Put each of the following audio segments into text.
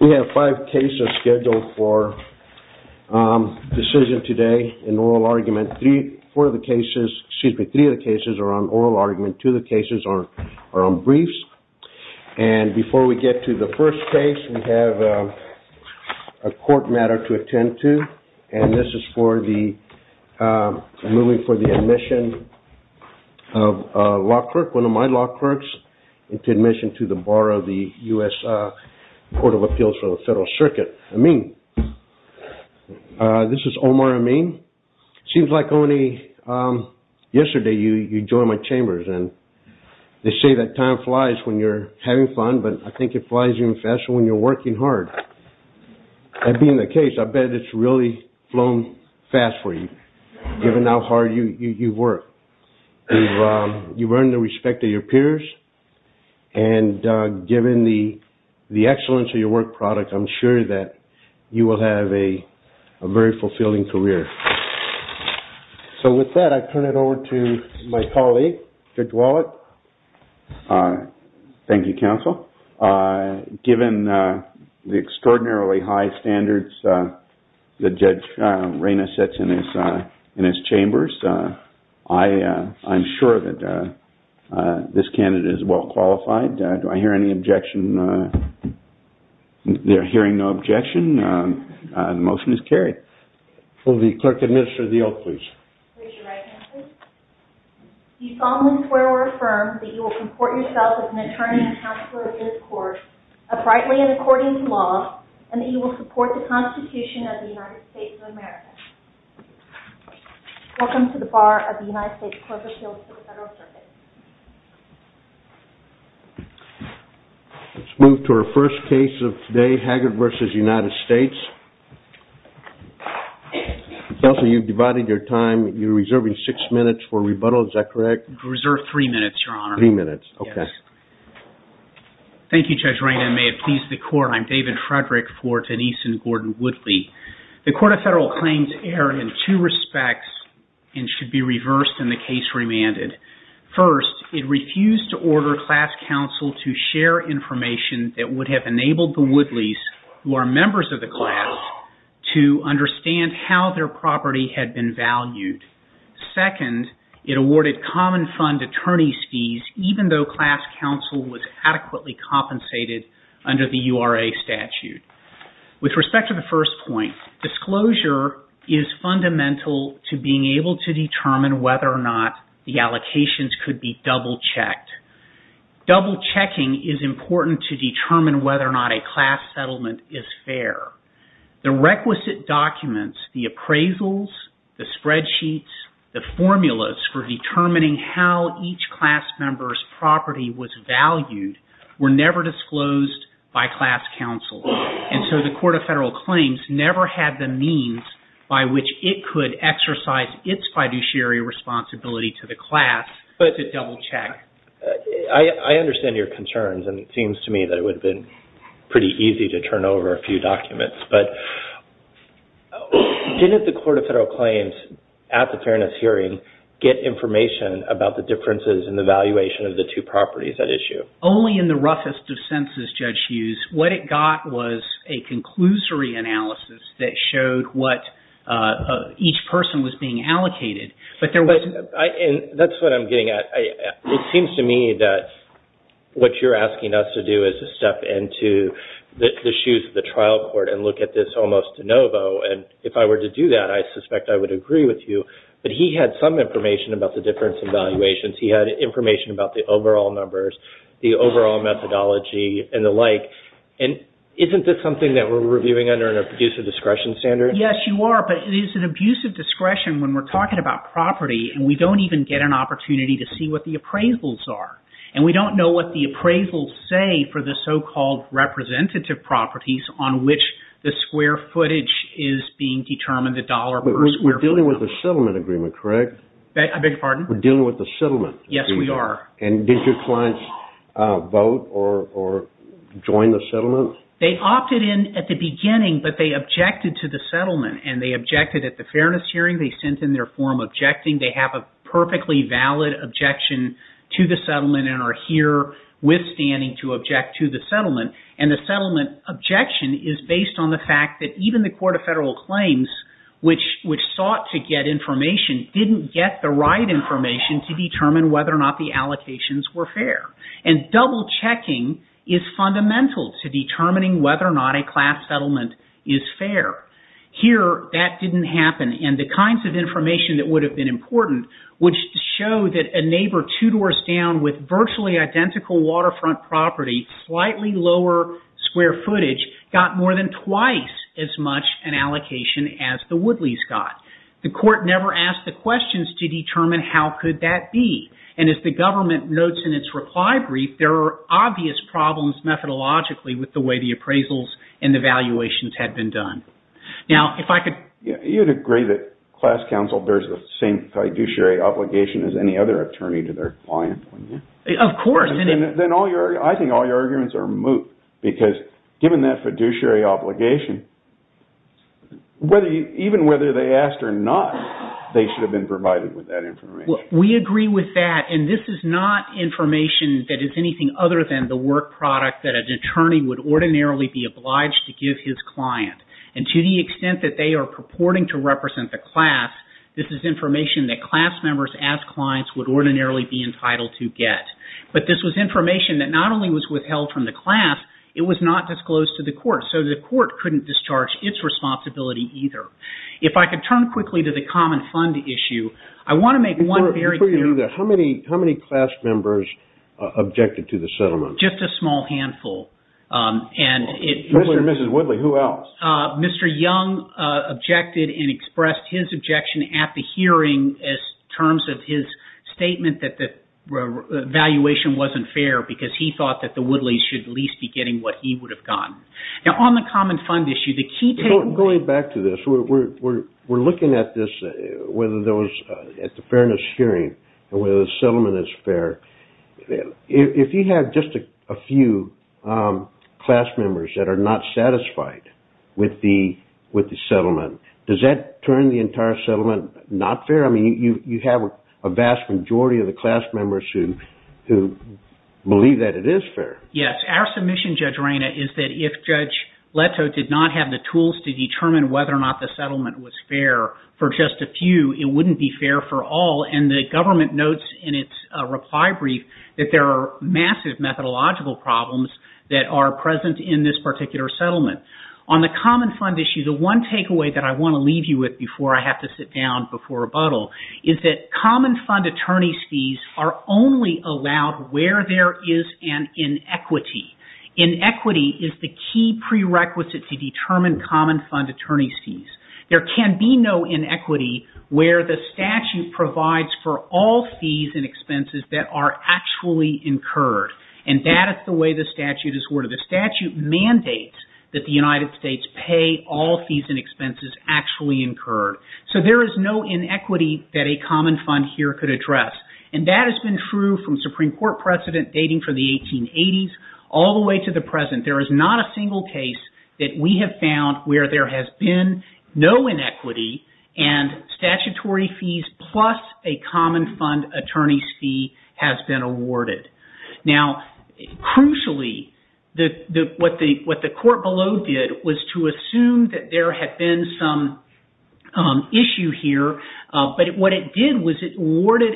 We have five cases scheduled for decision today in oral argument. Three of the cases are on oral argument. Two of the cases are on briefs. And before we get to the first case, we have a court matter to attend to. And this is for the admission of one of my law clerks into admission to the bar of the U.S. Court of Appeals for the Federal Circuit. Amin. This is Omar Amin. Seems like only yesterday you joined my chambers. And they say that time flies when you're having fun, but I think it flies even faster when you're working hard. That being the case, I bet it's really flown fast for you, given how hard you work. You earn the respect of your peers. And given the excellence of your work product, I'm sure that you will have a very fulfilling career. So with that, I turn it over to my colleague, Judge Wallet. Thank you, counsel. Given the extraordinarily high standards that Judge This candidate is well qualified. Do I hear any objection? Hearing no objection, the motion is carried. Will the clerk administer the oath, please? Raise your right hand, please. Do you solemnly swear or affirm that you will comport yourself as an attorney and counselor in this court, uprightly and according to law, and that you will support the Constitution of the United States of America? Welcome to the bar of the United States Court of Appeals of the Federal Circuit. Let's move to our first case of the day, Haggard v. United States. Counselor, you've divided your time. You're reserving six minutes for rebuttal. Is that correct? I reserve three minutes, Your Honor. Three minutes, okay. Thank you, Judge Reina, and may it please the Court. I'm David Frederick for Denise and Gordon Woodley. The Court of First, it refused to order class counsel to share information that would have enabled the Woodleys, who are members of the class, to understand how their property had been valued. Second, it awarded common fund attorney's fees, even though class counsel was adequately compensated under the URA statute. With respect to the first point, disclosure is fundamental to being able to determine whether or not the allocations could be double-checked. Double-checking is important to determine whether or not a class settlement is fair. The requisite documents, the appraisals, the spreadsheets, the formulas for determining how each class member's property was valued were never disclosed by class counsel, and so the Court of Federal Claims never had the means by which it could exercise its fiduciary responsibility to the class to double-check. I understand your concerns, and it seems to me that it would have been pretty easy to turn over a few documents, but didn't the Court of Federal Claims at the Fairness Hearing get information about the differences in the valuation of the two properties at issue? Only in the roughest of senses, Judge Hughes, what it got was a conclusory analysis that showed what each person was being allocated, but there wasn't... That's what I'm getting at. It seems to me that what you're asking us to do is to step into the shoes of the trial court and look at this almost de novo, and if I were to do that, I suspect I would agree with you, but he had some information about the difference in valuations. He had information about the overall numbers, the overall methodology and the like, and isn't this something that we're reviewing under an abusive discretion standard? Yes, you are, but it is an abusive discretion when we're talking about property and we don't even get an opportunity to see what the appraisals are, and we don't know what the appraisals say for the so-called representative properties on which the square footage is being determined, the dollar versus square footage. We're dealing with a settlement agreement, correct? I beg your pardon? We're dealing with a settlement agreement. Yes, we are. And did your clients vote or join the settlement? They opted in at the beginning, but they objected to the settlement, and they objected at the fairness hearing. They sent in their form objecting. They have a perfectly valid objection to the settlement and are herewithstanding to object to the settlement, and the settlement objection is based on the fact that even the Court of Federal Claims, which sought to get information, didn't get the right information to determine whether or not the allocations were fair, and double-checking is fundamental to determining whether or not a class settlement is fair. Here, that didn't happen, and the kinds of information that would have been important, which show that a neighbor two doors down with virtually identical waterfront property, slightly lower square footage, got more than twice as much an allocation as the Woodleys got. The court never asked the questions to determine how could that be, and as the government notes in its reply brief, there are obvious problems methodologically with the way the appraisals and the valuations had been done. Now, if I could... You'd agree that class counsel bears the same fiduciary obligation as any other attorney to their client, wouldn't you? Of course. Then I think all your arguments are moot, because given that fiduciary obligation, even whether they asked or not, they should have been provided with that information. We agree with that, and this is not information that is anything other than the work product that an attorney would ordinarily be obliged to give his client, and to the extent that they are purporting to represent the class, this is information that class members as clients would ordinarily be entitled to get, but this was information that not only was withheld from the class, it was not disclosed to the court, so the court couldn't discharge its responsibility either. If I could turn quickly to the common fund issue, I want to make one very clear... Before you do that, how many class members objected to the settlement? Just a small handful, and it... Mr. and Mrs. Woodley, who else? Mr. Young objected and expressed his objection at the hearing in terms of his statement that the valuation wasn't fair because he thought that the Woodleys should at least be getting what he would have gotten. Now, on the common fund issue, the key... Going back to this, we're looking at this, whether there was, at the fairness hearing, and whether the settlement is fair. If you have just a few class members that are not satisfied with the settlement, does that turn the entire settlement not fair? I mean, you have a vast majority of the class members who believe that it is fair. Yes. Our submission, Judge Reyna, is that if Judge Leto did not have the tools to determine whether or not the settlement was fair for just a few, it wouldn't be fair for all, and the government notes in its reply brief that there are massive methodological problems that are present in this particular settlement. On the common fund issue, the one takeaway that I want to leave you with before I have to sit down before rebuttal is that common fund attorneys' fees are only allowed where there is an inequity. Inequity is the key prerequisite to determine common fund attorneys' fees. There can be no inequity where the statute provides for all fees and expenses that are actually incurred, and that is the way the statute is ordered. The statute mandates that the United States pay all fees and expenses actually incurred. So there is no inequity that a common fund here could address, and that has been true from Supreme Court precedent dating from the 1880s all the way to the present. There is not a single case that we have found where there has been no inequity and statutory fees plus a common fund attorney's fee has been awarded. Now, crucially, what the court below did was to assume that there had been some issue here, but what it did was it awarded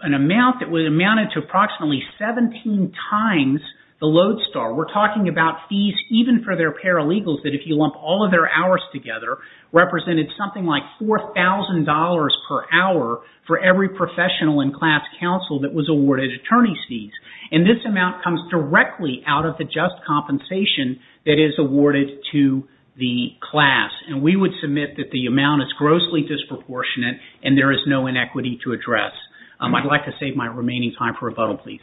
an amount that amounted to approximately 17 times the Lodestar. We're talking about fees even for their paralegals that if you lump all of their hours together represented something like $4,000 per hour for every professional in class counsel that was awarded attorney's fees. And this amount comes directly out of the just compensation that is awarded to the class. And we would submit that the amount is grossly disproportionate and there is no inequity to address. I'd like to save my remaining time for a vote, please.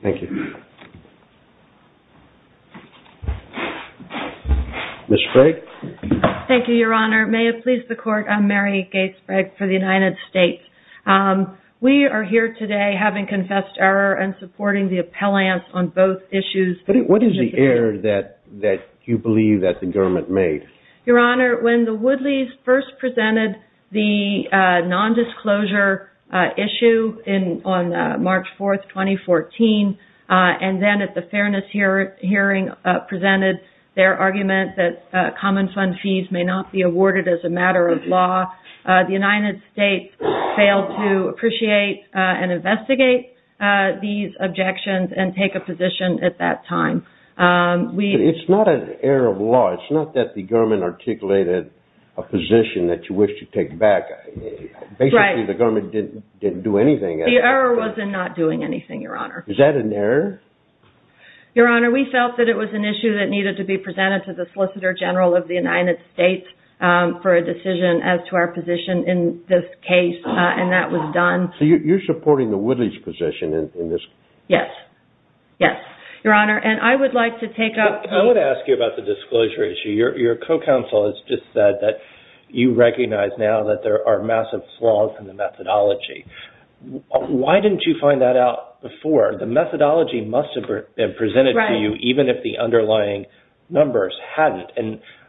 Thank you. Ms. Sprague? Thank you, Your Honor. May it please the Court, I'm Mary Gates Sprague for the United States. We are here today having confessed error and supporting the appellants on both issues. What is the error that you believe that the government made? Your Honor, when the Woodleys first presented the nondisclosure issue on March 4, 2014, and then at the fairness hearing presented their argument that common fund fees may not be awarded as a matter of law, the United States failed to appreciate and investigate these objections and take a position at that time. It's not an error of law. It's not that the government articulated a position that you wish to take back. Basically, the government didn't do anything. The error was in not doing anything, Your Honor. Is that an error? Your Honor, we felt that it was an issue that needed to be presented to the Solicitor General of the United States for a decision as to our position in this case, and that was done. So you're supporting the Woodleys' position in this? Yes. Yes, Your Honor. I would ask you about the disclosure issue. Your co-counsel has just said that you recognize now that there are massive flaws in the methodology. Why didn't you find that out before? The methodology must have been presented to you even if the underlying numbers hadn't.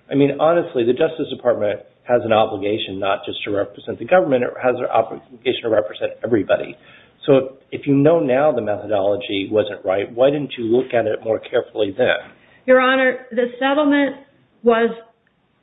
I mean, honestly, the Justice Department has an obligation not just to represent the government. It has an obligation to represent everybody. So if you know now the methodology wasn't right, why didn't you look at it more carefully then? Your Honor, the settlement was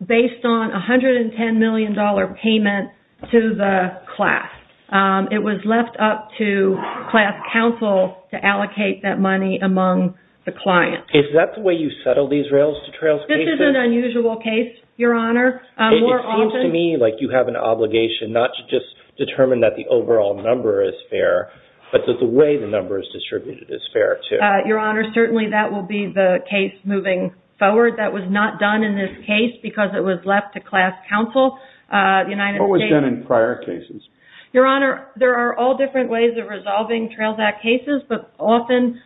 based on a $110 million payment to the class. It was left up to class counsel to allocate that money among the clients. Is that the way you settle these rails-to-trails cases? This is an unusual case, Your Honor. It seems to me like you have an obligation not to just determine that the overall number is fair, but that the way the number is distributed is fair, too. Your Honor, certainly that will be the case moving forward. That was not done in this case because it was left to class counsel. What was done in prior cases? Your Honor, there are all different ways of resolving Trails Act cases, but often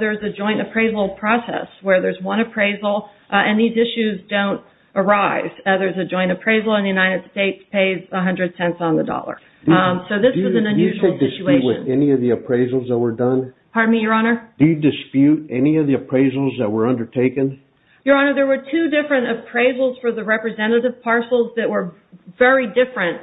there's a joint appraisal process where there's one appraisal and these issues don't arise. There's a joint appraisal and the United States pays $110 on the dollar. So this was an unusual situation. Do you dispute with any of the appraisals that were done? Pardon me, Your Honor? Do you dispute any of the appraisals that were undertaken? Your Honor, there were two different appraisals for the representative parcels that were very different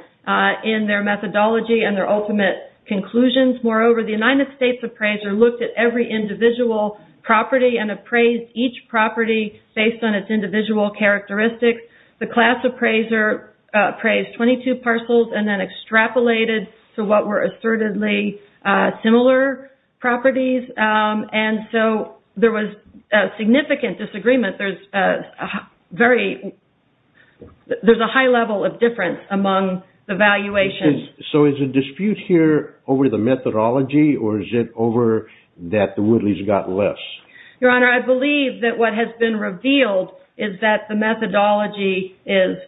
in their methodology and their ultimate conclusions. Moreover, the United States appraiser looked at every individual property and appraised each property based on its individual characteristics. The class appraiser appraised 22 parcels and then extrapolated to what were assertedly similar properties. And so there was significant disagreement. There's a high level of difference among the valuations. So is the dispute here over the methodology or is it over that the Woodleys got less? Your Honor, I believe that what has been revealed is that the methodology is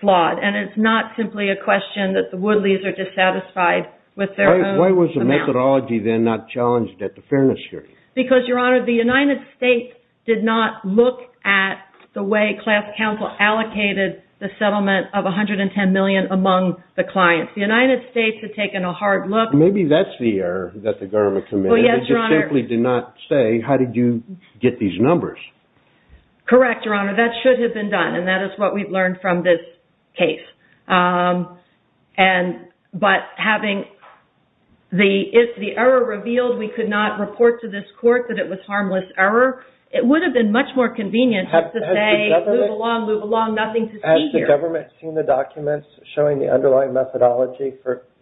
flawed and it's not simply a question that the Woodleys are dissatisfied with their own amount. Why was the methodology then not challenged at the fairness hearing? Because, Your Honor, the United States did not look at the way class counsel allocated the settlement of $110 million among the clients. The United States had taken a hard look. Maybe that's the error that the government committed. They just simply did not say, how did you get these numbers? Correct, Your Honor. That should have been done. And that is what we've learned from this case. But having the error revealed, we could not report to this court that it was harmless error. It would have been much more convenient to say, move along, move along, nothing to see here. Has the government seen the documents showing the underlying methodology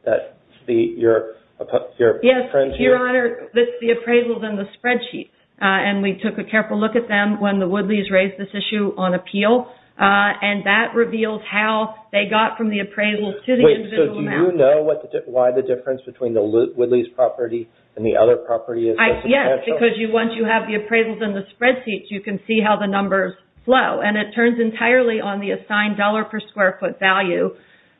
that your friends here with the appraisals and the spreadsheets? And we took a careful look at them when the Woodleys raised this issue on appeal. And that revealed how they got from the appraisal to the individual amount. Wait, so do you know why the difference between the Woodleys' property and the other property is so substantial? Yes, because once you have the appraisals and the spreadsheets, you can see how the numbers flow. And it turns entirely on the assigned dollar per square foot value.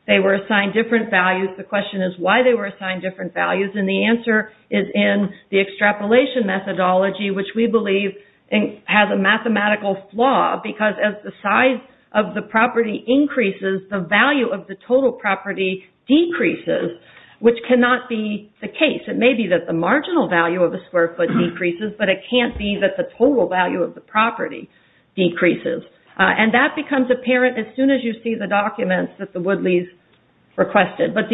They were assigned different values. The question is why they were assigned different values. And the answer is in the extrapolation methodology, which we believe has a mathematical flaw, because as the size of the property increases, the value of the total property decreases, which cannot be the case. It may be that the marginal value of a square foot decreases, but it can't be that the total value of the property decreases. And that becomes apparent as soon as you see the documents that the Woodleys requested. Does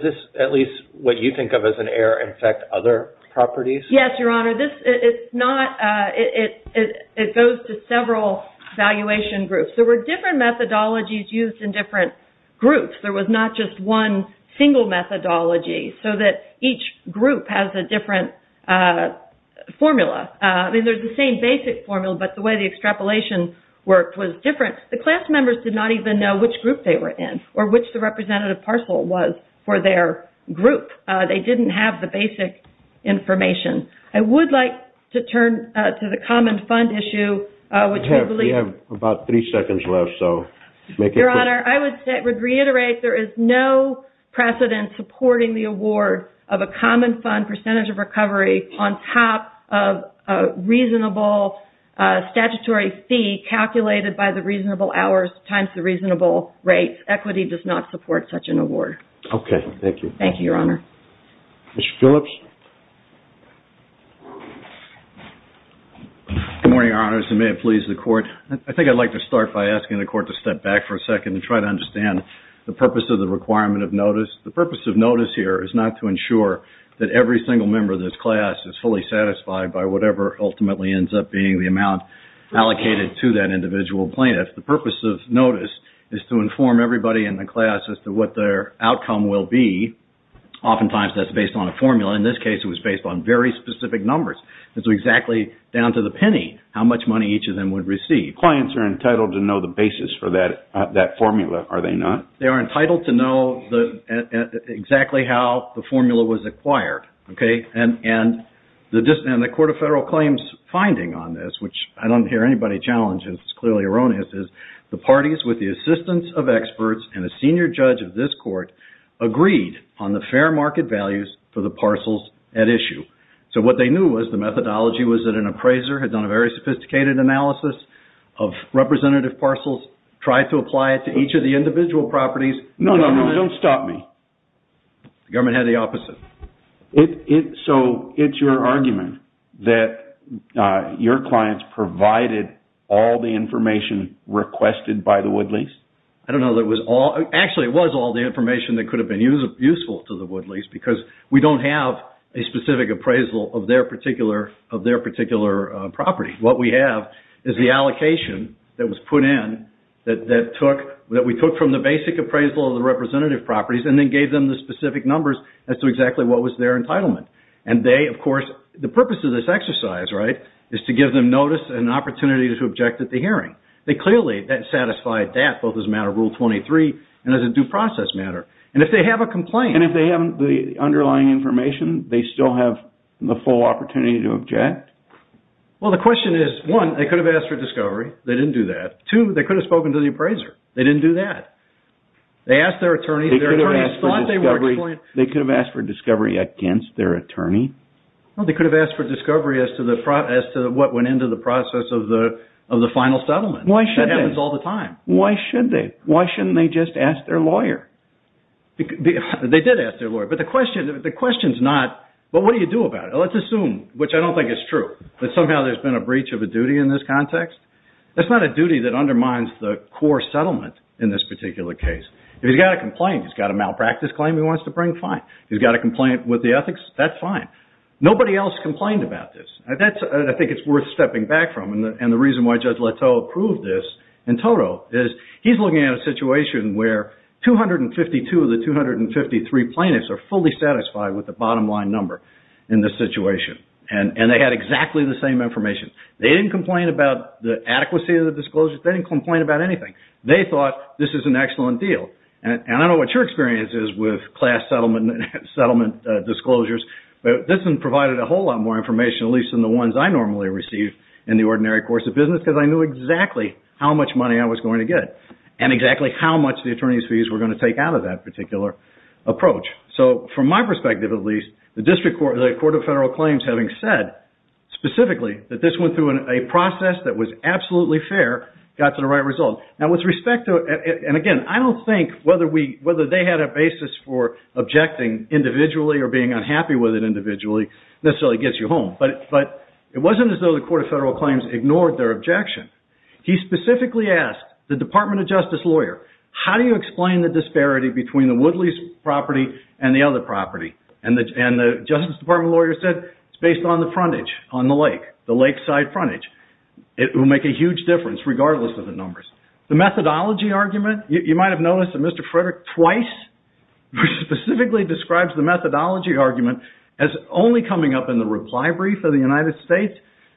this, at least what you think of as an error, affect other properties? Yes, Your Honor. It goes to several valuation groups. There were different methodologies used in different groups. There was not just one single methodology, so that each group has a different formula. I mean, there's the same basic formula, but the way the extrapolation worked was different. The class members did not even know which group they were in or which the representative parcel was for their group. They didn't have the basic information. I would like to turn to the common fund issue, which we believe— We have about three seconds left, so make it quick. Your Honor, I would reiterate there is no precedent supporting the award of a common fund percentage of recovery on top of a reasonable statutory fee calculated by the reasonable hours times the reasonable rates. Equity does not support such an award. Thank you, Your Honor. Mr. Phillips? Good morning, Your Honors, and may it please the Court. I think I'd like to start by asking the Court to step back for a second and try to understand the purpose of the requirement of notice. The purpose of notice here is not to ensure that every single member of this class is fully satisfied by whatever ultimately ends up being the amount allocated to that individual plaintiff. The purpose of notice is to inform everybody in the class as to what their outcome will be. Oftentimes, that's based on a formula. In this case, it was based on very specific numbers. It was exactly down to the penny, how much money each of them would receive. Clients are entitled to know the basis for that formula, are they not? They are entitled to know exactly how the formula was acquired. And the Court of Federal Claims' finding on this, which I don't hear anybody challenge, it's clearly erroneous, is the parties with the assistance of experts and a senior judge of this court agreed on the fair market values for the parcels at issue. So what they knew was the methodology was that an appraiser had done a very sophisticated analysis of representative parcels, tried to apply it to each of the individual properties. No, no, no. Don't stop me. The government had the opposite. So it's your argument that your clients provided all the information requested by the wood lease? I don't know that it was all. Actually, it was all the information that could have been useful to the wood lease because we don't have a specific appraisal of their particular property. What we have is the allocation that was put in that we took from the basic appraisal of the representative properties and then gave them the specific numbers as to exactly what was their entitlement. And they, of course, the purpose of this exercise, right, is to give them notice and an opportunity to object at the hearing. They clearly satisfied that both as a matter of Rule 23 and as a due process matter. And if they have a complaint... And if they have the underlying information, they still have the full opportunity to object? Well, the question is, one, they could have asked for discovery. They didn't do that. Two, they could have spoken to the appraiser. They didn't do that. They asked their attorney. They could have asked for discovery against their attorney? They could have asked for discovery as to what went into the process of the final settlement. Why should they? That happens all the time. Why should they? Why shouldn't they just ask their lawyer? They did ask their lawyer. But the question is not, well, what do you do about it? Let's assume, which I don't think is true, that somehow there's been a breach of a duty in this context. That's not a duty that undermines the core settlement in this particular case. If he's got a complaint, he's got a malpractice claim he wants to bring, fine. If he's got a complaint with the ethics, that's fine. Nobody else complained about this. I think it's worth stepping back from. And the reason why Judge Leteau proved this in total is he's looking at a situation where 252 of the 253 plaintiffs are fully satisfied with the bottom line number in this situation. And they had exactly the same information. They didn't complain about the adequacy of the disclosures. They didn't complain about anything. They thought this is an excellent deal. And I don't know what your experience is with class settlement disclosures, but this one provided a whole lot more information, at least than the ones I normally receive in the ordinary course of business, because I knew exactly how much money I was going to get and exactly how much the attorney's fees were going to take out of that particular approach. So from my perspective, at least, the Court of Federal Claims having said specifically that this went through a process that was absolutely fair got to the right result. And again, I don't think whether they had a basis for objecting individually or being unhappy with it individually necessarily gets you home. But it wasn't as though the Court of Federal Claims ignored their objection. He specifically asked the Department of Justice lawyer, how do you explain the disparity between the Woodley's property and the other property? And the Justice Department lawyer said, it's based on the frontage on the lake, the lakeside frontage. It will make a huge difference regardless of the numbers. The methodology argument, you might have noticed that Mr. Frederick twice specifically describes the methodology argument as only coming up in the reply brief of the United States.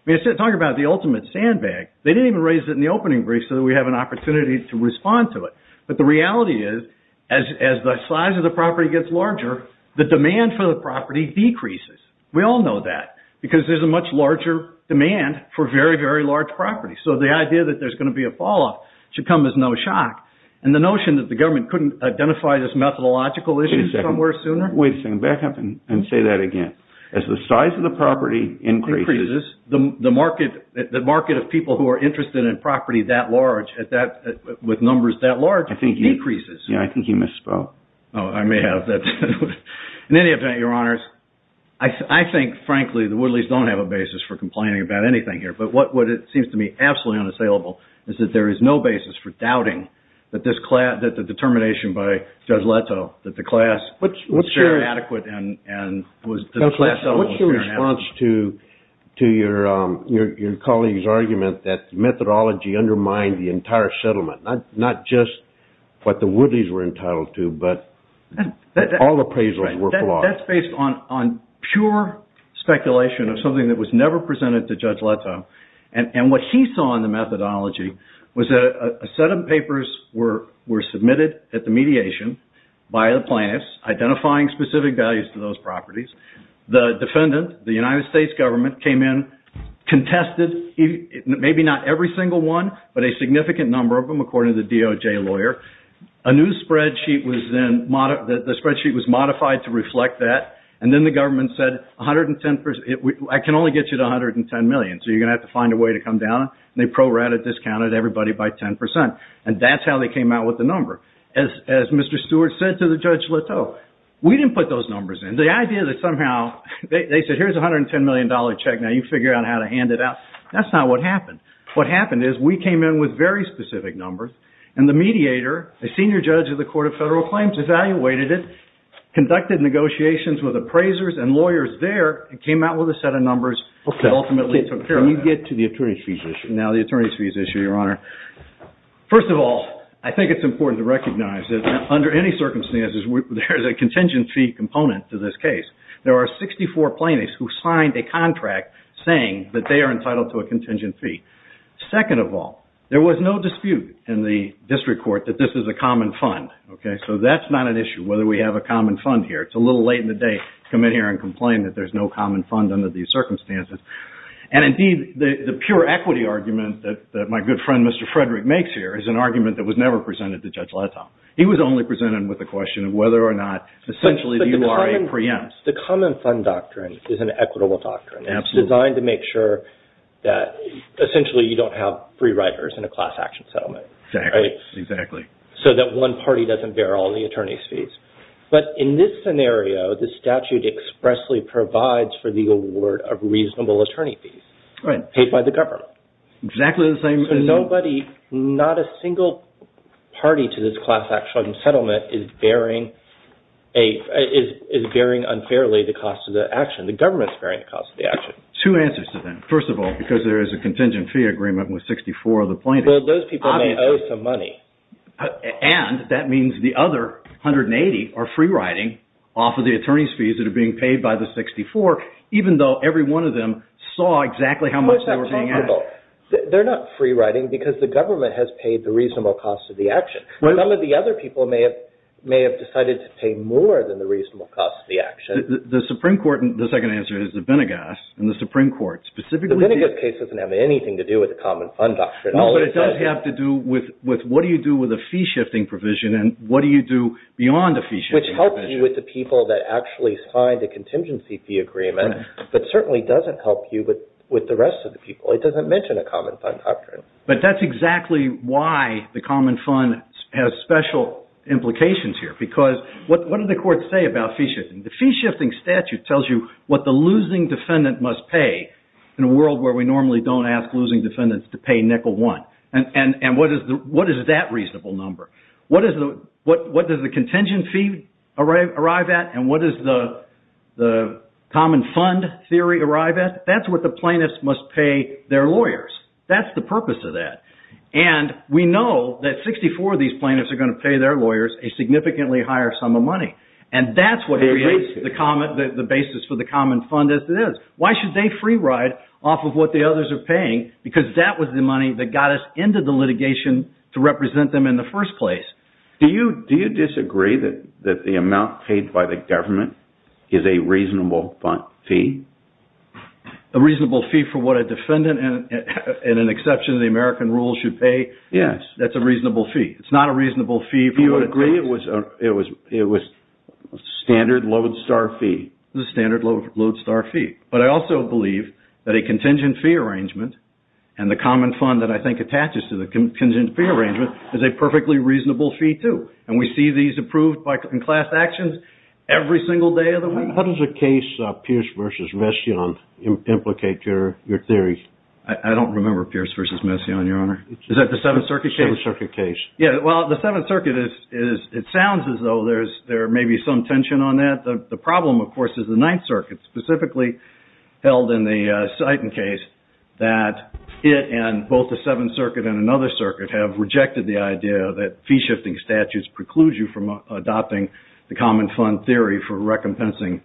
I mean, talk about the ultimate sandbag. They didn't even raise it in the opening brief so that we have an opportunity to respond to it. But the reality is as the size of the property gets larger, the demand for the property decreases. We all know that because there's a much larger demand for very, very large properties. So the idea that there's going to be a falloff should come as no shock. And the notion that the government couldn't identify this methodological issue somewhere sooner? Wait a second. Back up and say that again. As the size of the property increases, the market of people who are interested in property that large, with numbers that large, decreases. Yeah, I think you misspoke. Oh, I may have. In any event, Your Honors, I think, frankly, the Woodleys don't have a basis for complaining about anything here. But what seems to me absolutely unassailable is that there is no basis for doubting that the determination by Judge Leto, that the class was fair and adequate and that the class settlement was fair and adequate. What's your response to your colleague's argument that methodology undermined the entire settlement? Not just what the Woodleys were entitled to, but all appraisals were flawed. That's based on pure speculation of something that was never presented to Judge Leto. And what he saw in the methodology was that a set of papers were submitted at the mediation by the plaintiffs, identifying specific values to those properties. The defendant, the United States government, came in, contested maybe not every single one, but a significant number of them, according to the DOJ lawyer. A new spreadsheet was then modified to reflect that, and then the government said, I can only get you to $110 million, so you're going to have to find a way to come down. And they pro-rata discounted everybody by 10%. And that's how they came out with the number. As Mr. Stewart said to the Judge Leto, we didn't put those numbers in. The idea that somehow, they said, here's a $110 million check, now you figure out how to hand it out. That's not what happened. What happened is we came in with very specific numbers, and the mediator, a senior judge of the Court of Federal Claims, evaluated it, conducted negotiations with appraisers and lawyers there, and came out with a set of numbers that ultimately took care of it. Can you get to the attorney's fees issue? Now, the attorney's fees issue, Your Honor. First of all, I think it's important to recognize that under any circumstances, there's a contingency component to this case. There are 64 plaintiffs who signed a contract saying that they are entitled to a contingency. Second of all, there was no dispute in the district court that this is a common fund. So that's not an issue, whether we have a common fund here. It's a little late in the day to come in here and complain that there's no common fund under these circumstances. Indeed, the pure equity argument that my good friend, Mr. Frederick, makes here is an argument that was never presented to Judge Leto. He was only presented with the question of whether or not, essentially, the URA preempts. The common fund doctrine is an equitable doctrine. It's designed to make sure that, essentially, you don't have free riders in a class action settlement. Exactly. So that one party doesn't bear all the attorney's fees. But in this scenario, the statute expressly provides for the award of reasonable attorney fees. Right. Paid by the government. Exactly the same. So nobody, not a single party to this class action settlement is bearing unfairly the cost of the action. The government's bearing the cost of the action. Two answers to that. First of all, because there is a contingent fee agreement with 64 of the plaintiffs. So those people may owe some money. And that means the other 180 are free riding off of the attorney's fees that are being paid by the 64, even though every one of them saw exactly how much they were being asked. How is that possible? They're not free riding because the government has paid the reasonable cost of the action. Some of the other people may have decided to pay more than the reasonable cost of the action. The Supreme Court, the second answer is the Benegas, and the Supreme Court specifically did. This case doesn't have anything to do with the common fund doctrine. No, but it does have to do with what do you do with a fee shifting provision, and what do you do beyond the fee shifting provision. Which helps you with the people that actually signed the contingency fee agreement, but certainly doesn't help you with the rest of the people. It doesn't mention a common fund doctrine. But that's exactly why the common fund has special implications here. Because what do the courts say about fee shifting? The fee shifting statute tells you what the losing defendant must pay in a world where we normally don't ask losing defendants to pay nickel one. And what is that reasonable number? What does the contingency fee arrive at, and what does the common fund theory arrive at? That's what the plaintiffs must pay their lawyers. That's the purpose of that. And we know that 64 of these plaintiffs are going to pay their lawyers a significantly higher sum of money. And that's what creates the basis for the common fund as it is. Why should they free ride off of what the others are paying? Because that was the money that got us into the litigation to represent them in the first place. Do you disagree that the amount paid by the government is a reasonable fee? A reasonable fee for what a defendant, in an exception to the American rules, should pay? Yes. That's a reasonable fee. It's not a reasonable fee for what it costs. Actually, it was a standard lodestar fee. It was a standard lodestar fee. But I also believe that a contingency fee arrangement, and the common fund that I think attaches to the contingency fee arrangement, is a perfectly reasonable fee, too. And we see these approved in class actions every single day of the week. How does the case Pierce v. Messiaen implicate your theory? I don't remember Pierce v. Messiaen, Your Honor. Is that the Seventh Circuit case? The Seventh Circuit case. Yeah, well, the Seventh Circuit, it sounds as though there may be some tension on that. The problem, of course, is the Ninth Circuit, specifically held in the Sighton case, that it and both the Seventh Circuit and another circuit have rejected the idea that fee-shifting statutes preclude you from adopting the common fund theory for recompensing.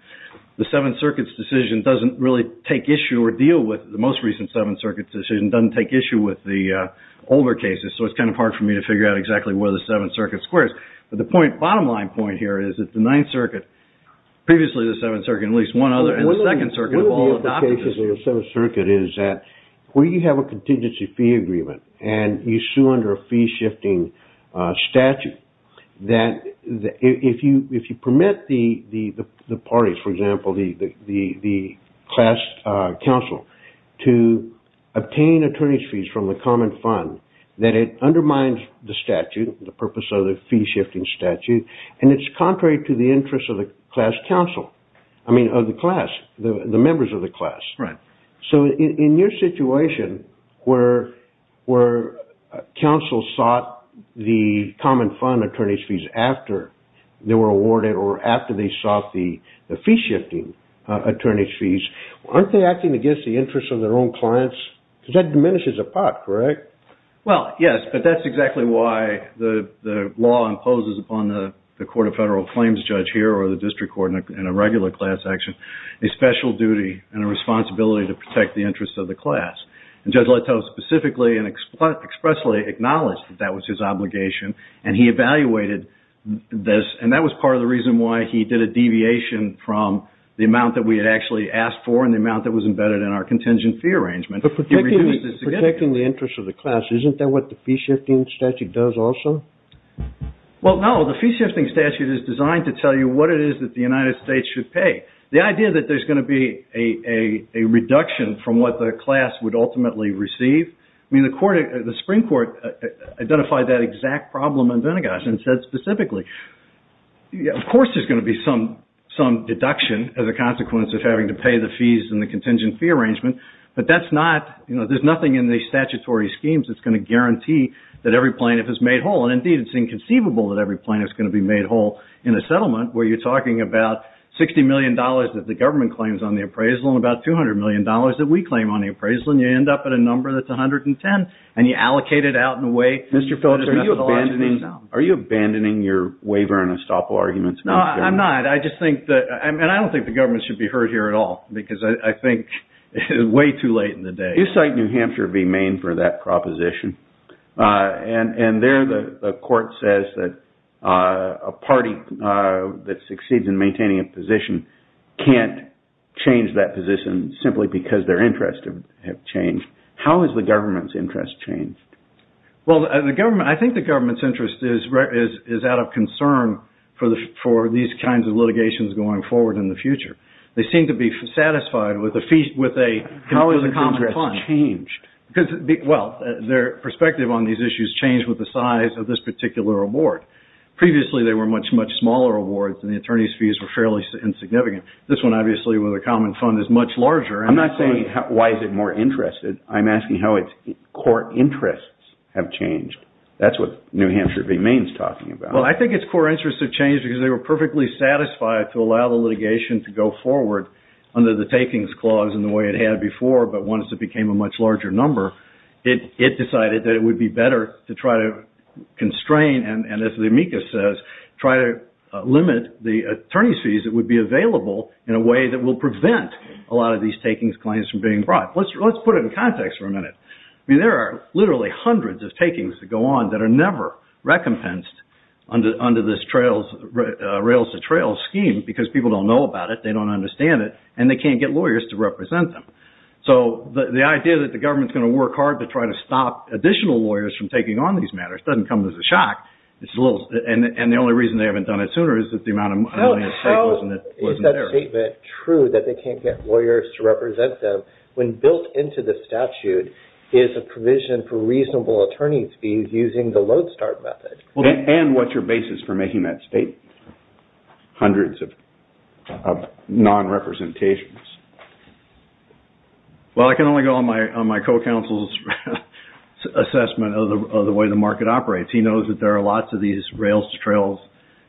The Seventh Circuit's decision doesn't really take issue or deal with, the most recent Seventh Circuit's decision doesn't take issue with the older cases, so it's kind of hard for me to figure out exactly where the Seventh Circuit squares. But the bottom line point here is that the Ninth Circuit, previously the Seventh Circuit, at least one other, and the Second Circuit have all adopted this. One of the implications of the Seventh Circuit is that where you have a contingency fee agreement and you sue under a fee-shifting statute, that if you permit the parties, for example, the class counsel, to obtain attorney's fees from the common fund, that it undermines the statute, the purpose of the fee-shifting statute, and it's contrary to the interests of the class counsel, I mean of the class, the members of the class. So in your situation, where counsel sought the common fund attorney's fees after they were awarded or after they sought the fee-shifting attorney's fees, aren't they acting against the interests of their own clients? Because that diminishes a pot, correct? Well, yes, but that's exactly why the law imposes upon the court of federal claims judge here or the district court in a regular class action, a special duty and a responsibility to protect the interests of the class. And Judge Leto specifically and expressly acknowledged that that was his obligation, and he evaluated this, and that was part of the reason why he did a deviation from the amount that we had actually asked for and the amount that was embedded in our contingent fee arrangement. But protecting the interests of the class, isn't that what the fee-shifting statute does also? Well, no, the fee-shifting statute is designed to tell you what it is that the United States should pay. The idea that there's going to be a reduction from what the class would ultimately receive, I mean, the Supreme Court identified that exact problem in Venegas and said specifically, of course there's going to be some deduction as a consequence of having to pay the fees in the contingent fee arrangement, but that's not, you know, there's nothing in the statutory schemes that's going to guarantee that every plaintiff is made whole. And indeed, it's inconceivable that every plaintiff is going to be made whole in a settlement where you're talking about $60 million that the government claims on the appraisal and about $200 million that we claim on the appraisal, and you end up at a number that's 110, and you allocate it out in a way. Mr. Phillips, are you abandoning your waiver and estoppel arguments? No, I'm not. I just think that, and I don't think the government should be heard here at all because I think it's way too late in the day. You cite New Hampshire v. Maine for that proposition, and there the court says that a party that succeeds in maintaining a position can't change that position simply because their interests have changed. How has the government's interest changed? Well, I think the government's interest is out of concern for these kinds of litigations going forward in the future. They seem to be satisfied with a fee, with a common fund. How has the interest changed? Well, their perspective on these issues changed with the size of this particular award. Previously, they were much, much smaller awards, and the attorney's fees were fairly insignificant. This one, obviously, with a common fund, is much larger. I'm not saying why is it more interested. I'm asking how its core interests have changed. That's what New Hampshire v. Maine is talking about. Well, I think its core interests have changed because they were perfectly satisfied to allow the litigation to go forward under the takings clause in the way it had before, but once it became a much larger number, it decided that it would be better to try to constrain and, as the amicus says, try to limit the attorney's fees that would be available in a way that will prevent a lot of these takings claims from being brought. Let's put it in context for a minute. I mean, there are literally hundreds of takings that go on that are never recompensed under this rails-to-trails scheme because people don't know about it, they don't understand it, and they can't get lawyers to represent them. So the idea that the government's going to work hard to try to stop additional lawyers from taking on these matters doesn't come as a shock, and the only reason they haven't done it sooner is that the amount of money at stake wasn't there. So is that statement true that they can't get lawyers to represent them when built into the statute is a provision for reasonable attorney's fees using the load-start method? And what's your basis for making that statement? Hundreds of non-representations. Well, I can only go on my co-counsel's assessment of the way the market operates. He knows that there are lots of these rails-to-trails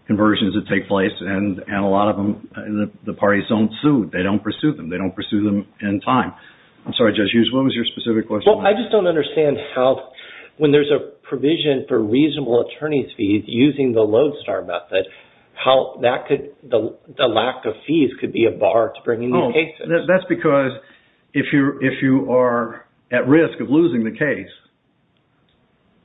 conversions that take place and a lot of them the parties don't sue. They don't pursue them. They don't pursue them in time. I'm sorry, Judge Hughes, what was your specific question? Well, I just don't understand how when there's a provision for reasonable attorney's fees using the load-start method, the lack of fees could be a bar to bringing these cases. That's because if you are at risk of losing the case,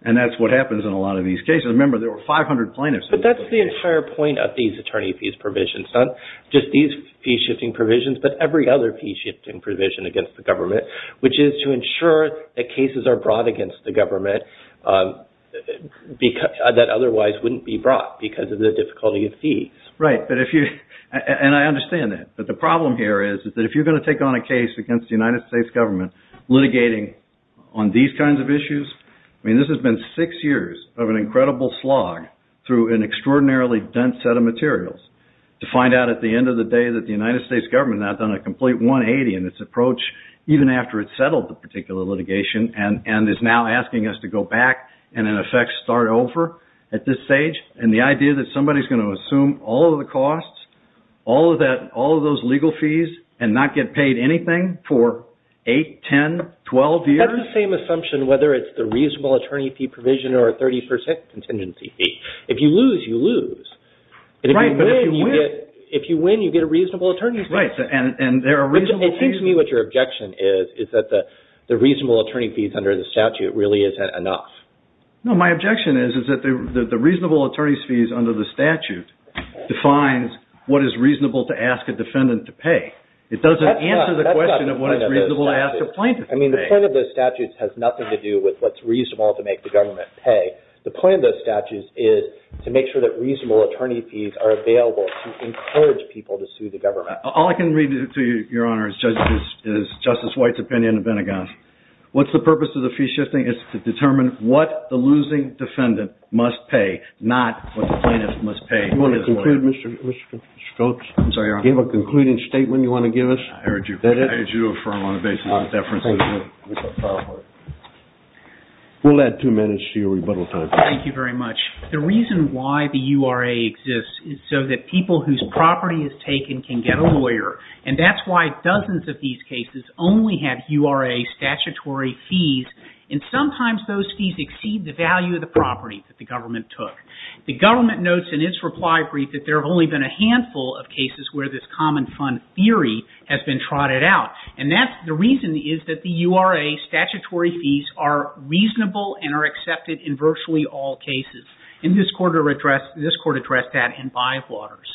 and that's what happens in a lot of these cases. Remember, there were 500 plaintiffs. But that's the entire point of these attorney fees provisions, not just these fee-shifting provisions but every other fee-shifting provision against the government, which is to ensure that cases are brought against the government that otherwise wouldn't be brought because of the difficulty of fees. Right, and I understand that. But the problem here is that if you're going to take on a case against the United States government litigating on these kinds of issues, I mean, this has been six years of an incredible slog through an extraordinarily dense set of materials to find out at the end of the day that the United States government has now done a complete 180 in its approach, even after it's settled the particular litigation and is now asking us to go back and, in effect, start over at this stage. And the idea that somebody's going to assume all of the costs, all of those legal fees, and not get paid anything for 8, 10, 12 years? That's the same assumption whether it's the reasonable attorney fee provision or a 30% contingency fee. If you lose, you lose. Right, but if you win... If you win, you get a reasonable attorney's fee. Right, and there are reasonable attorneys... It seems to me what your objection is is that the reasonable attorney fees under the statute really isn't enough. No, my objection is that the reasonable attorney's fees under the statute defines what is reasonable to ask a defendant to pay. It doesn't answer the question of what is reasonable to ask a plaintiff to pay. I mean, the point of those statutes has nothing to do with what's reasonable to make the government pay. The point of those statutes is to make sure that reasonable attorney fees are available to encourage people to sue the government. All I can read to you, Your Honor, is Justice White's opinion in the Pentagon. What's the purpose of the fee shifting? It's to determine what the losing defendant must pay, not what the plaintiff must pay. Do you want to conclude, Mr. Scopes? I'm sorry, Your Honor. Do you have a concluding statement you want to give us? I urge you to affirm on the basis of deference. We'll add two minutes to your rebuttal time. Thank you very much. The reason why the URA exists is so that people whose property is taken can get a lawyer, and that's why dozens of these cases only have URA statutory fees, and sometimes those fees exceed the value of the property that the government took. The government notes in its reply brief that there have only been a handful of cases where this common fund theory has been trotted out, and the reason is that the URA statutory fees are reasonable and are accepted in virtually all cases, and this Court addressed that in Bywaters.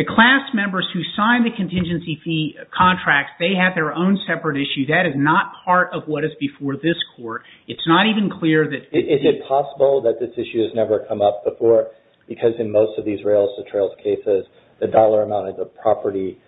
The class members who signed the contingency fee contracts, they have their own separate issue. That is not part of what is before this Court. It's not even clear that... Is it possible that this issue has never come up before? Because in most of these rails-to-trails cases, the dollar amount of the property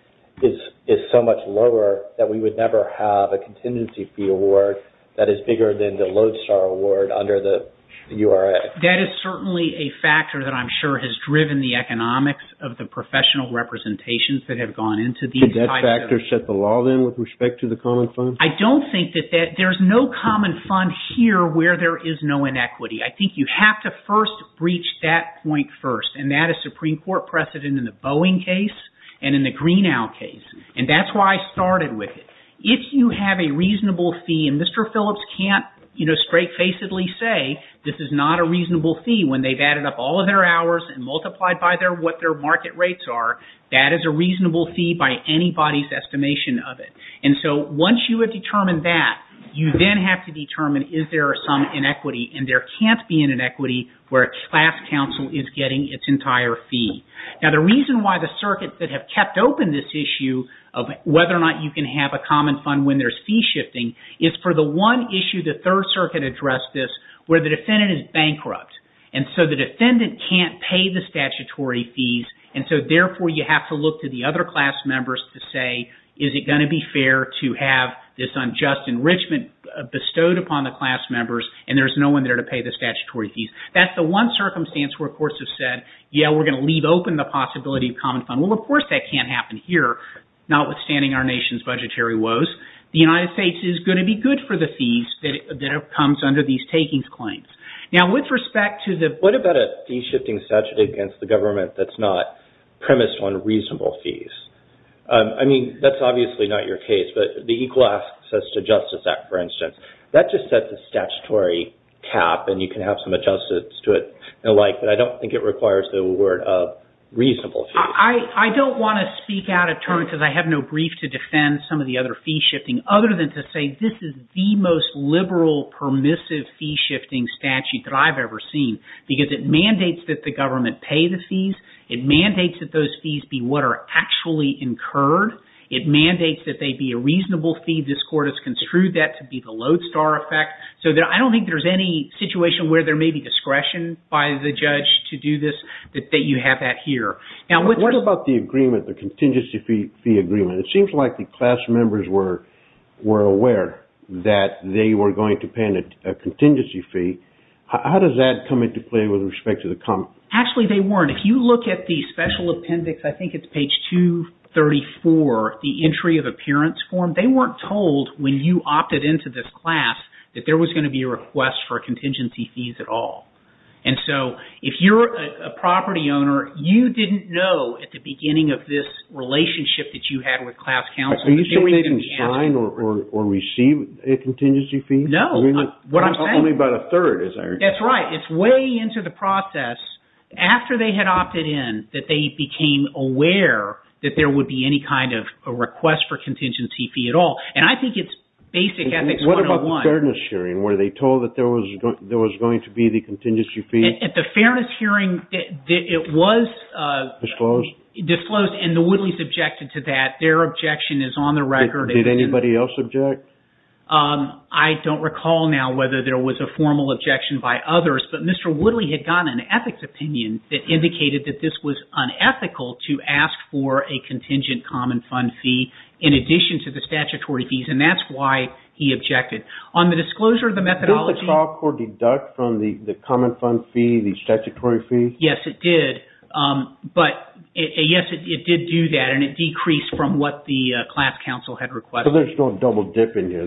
is so much lower that we would never have a contingency fee award that is bigger than the lodestar award under the URA. That is certainly a factor that I'm sure has driven the economics of the professional representations that have gone into these types of... Did that factor set the law then with respect to the common fund? I don't think that that... There's no common fund here where there is no inequity. I think you have to first breach that point first, and that is Supreme Court precedent in the Boeing case and in the Greenow case, and that's why I started with it. If you have a reasonable fee, and Mr. Phillips can't straight-facedly say this is not a reasonable fee when they've added up all of their hours and multiplied by what their market rates are, that is a reasonable fee by anybody's estimation of it. And so once you have determined that, you then have to determine is there some inequity, and there can't be an inequity where a class counsel is getting its entire fee. Now the reason why the circuits that have kept open this issue of whether or not you can have a common fund when there's fee shifting is for the one issue the Third Circuit addressed this where the defendant is bankrupt, and so the defendant can't pay the statutory fees, and so therefore you have to look to the other class members to say is it going to be fair to have this unjust enrichment bestowed upon the class members, and there's no one there to pay the statutory fees. That's the one circumstance where courts have said, yeah, we're going to leave open the possibility of common fund. Well, of course that can't happen here, notwithstanding our nation's budgetary woes. The United States is going to be good for the fees that comes under these takings claims. Now with respect to the... What about a fee shifting statute against the government that's not premised on reasonable fees? but the Equal Access to Justice Act, for instance, that just sets a statutory cap, and you can have some adjustments to it and the like, but I don't think it requires the word of reasonable fees. I don't want to speak out of turn because I have no brief to defend some of the other fee shifting other than to say this is the most liberal permissive fee shifting statute that I've ever seen because it mandates that the government pay the fees. It mandates that those fees be what are actually incurred. It mandates that they be a reasonable fee. This Court has construed that to be the lodestar effect, so I don't think there's any situation where there may be discretion by the judge to do this, that you have that here. What about the agreement, the contingency fee agreement? It seems like the class members were aware that they were going to pay a contingency fee. How does that come into play with respect to the common fund? Actually, they weren't. If you look at the special appendix, I think it's page 234, the entry of appearance form, they weren't told when you opted into this class that there was going to be a request for contingency fees at all. And so if you're a property owner, you didn't know at the beginning of this relationship that you had with class counsel that you were going to be asking. Are you saying they didn't sign or receive a contingency fee? No, what I'm saying... Only about a third, as I understand. That's right. It's way into the process after they had opted in that they became aware that there would be any kind of a request for contingency fee at all. And I think it's basic ethics 101. What about the fairness hearing? Were they told that there was going to be the contingency fee? At the fairness hearing, it was... Disclosed? Disclosed, and the Woodleys objected to that. Their objection is on the record. Did anybody else object? I don't recall now whether there was a formal objection by others, but Mr. Woodley had gotten an ethics opinion that indicated that this was unethical to ask for a contingent common fund fee in addition to the statutory fees, and that's why he objected. On the disclosure of the methodology... Did the trial court deduct from the common fund fee the statutory fee? Yes, it did. But, yes, it did do that, and it decreased from what the class counsel had requested. So there's no double dip in here.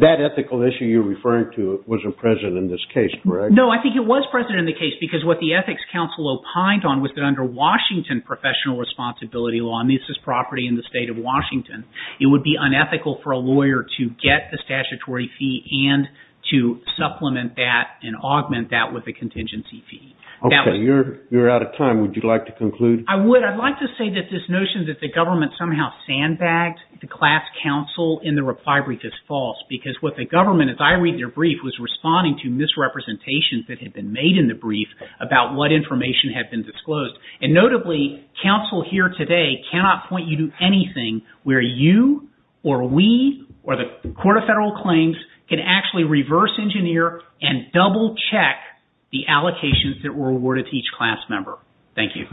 That ethical issue you're referring to wasn't present in this case, correct? No, I think it was present in the case because what the ethics counsel opined on was that under Washington professional responsibility law, and this is property in the state of Washington, it would be unethical for a lawyer to get the statutory fee and to supplement that and augment that with a contingency fee. Okay, you're out of time. Would you like to conclude? I would. I'd like to say that this notion that the government somehow sandbagged the class counsel in the reply brief is false because what the government, as I read their brief, was responding to misrepresentations that had been made in the brief about what information had been disclosed. And notably, counsel here today cannot point you to anything where you or we or the Court of Federal Claims can actually reverse engineer and double check the allocations that were awarded to each class member. Thank you.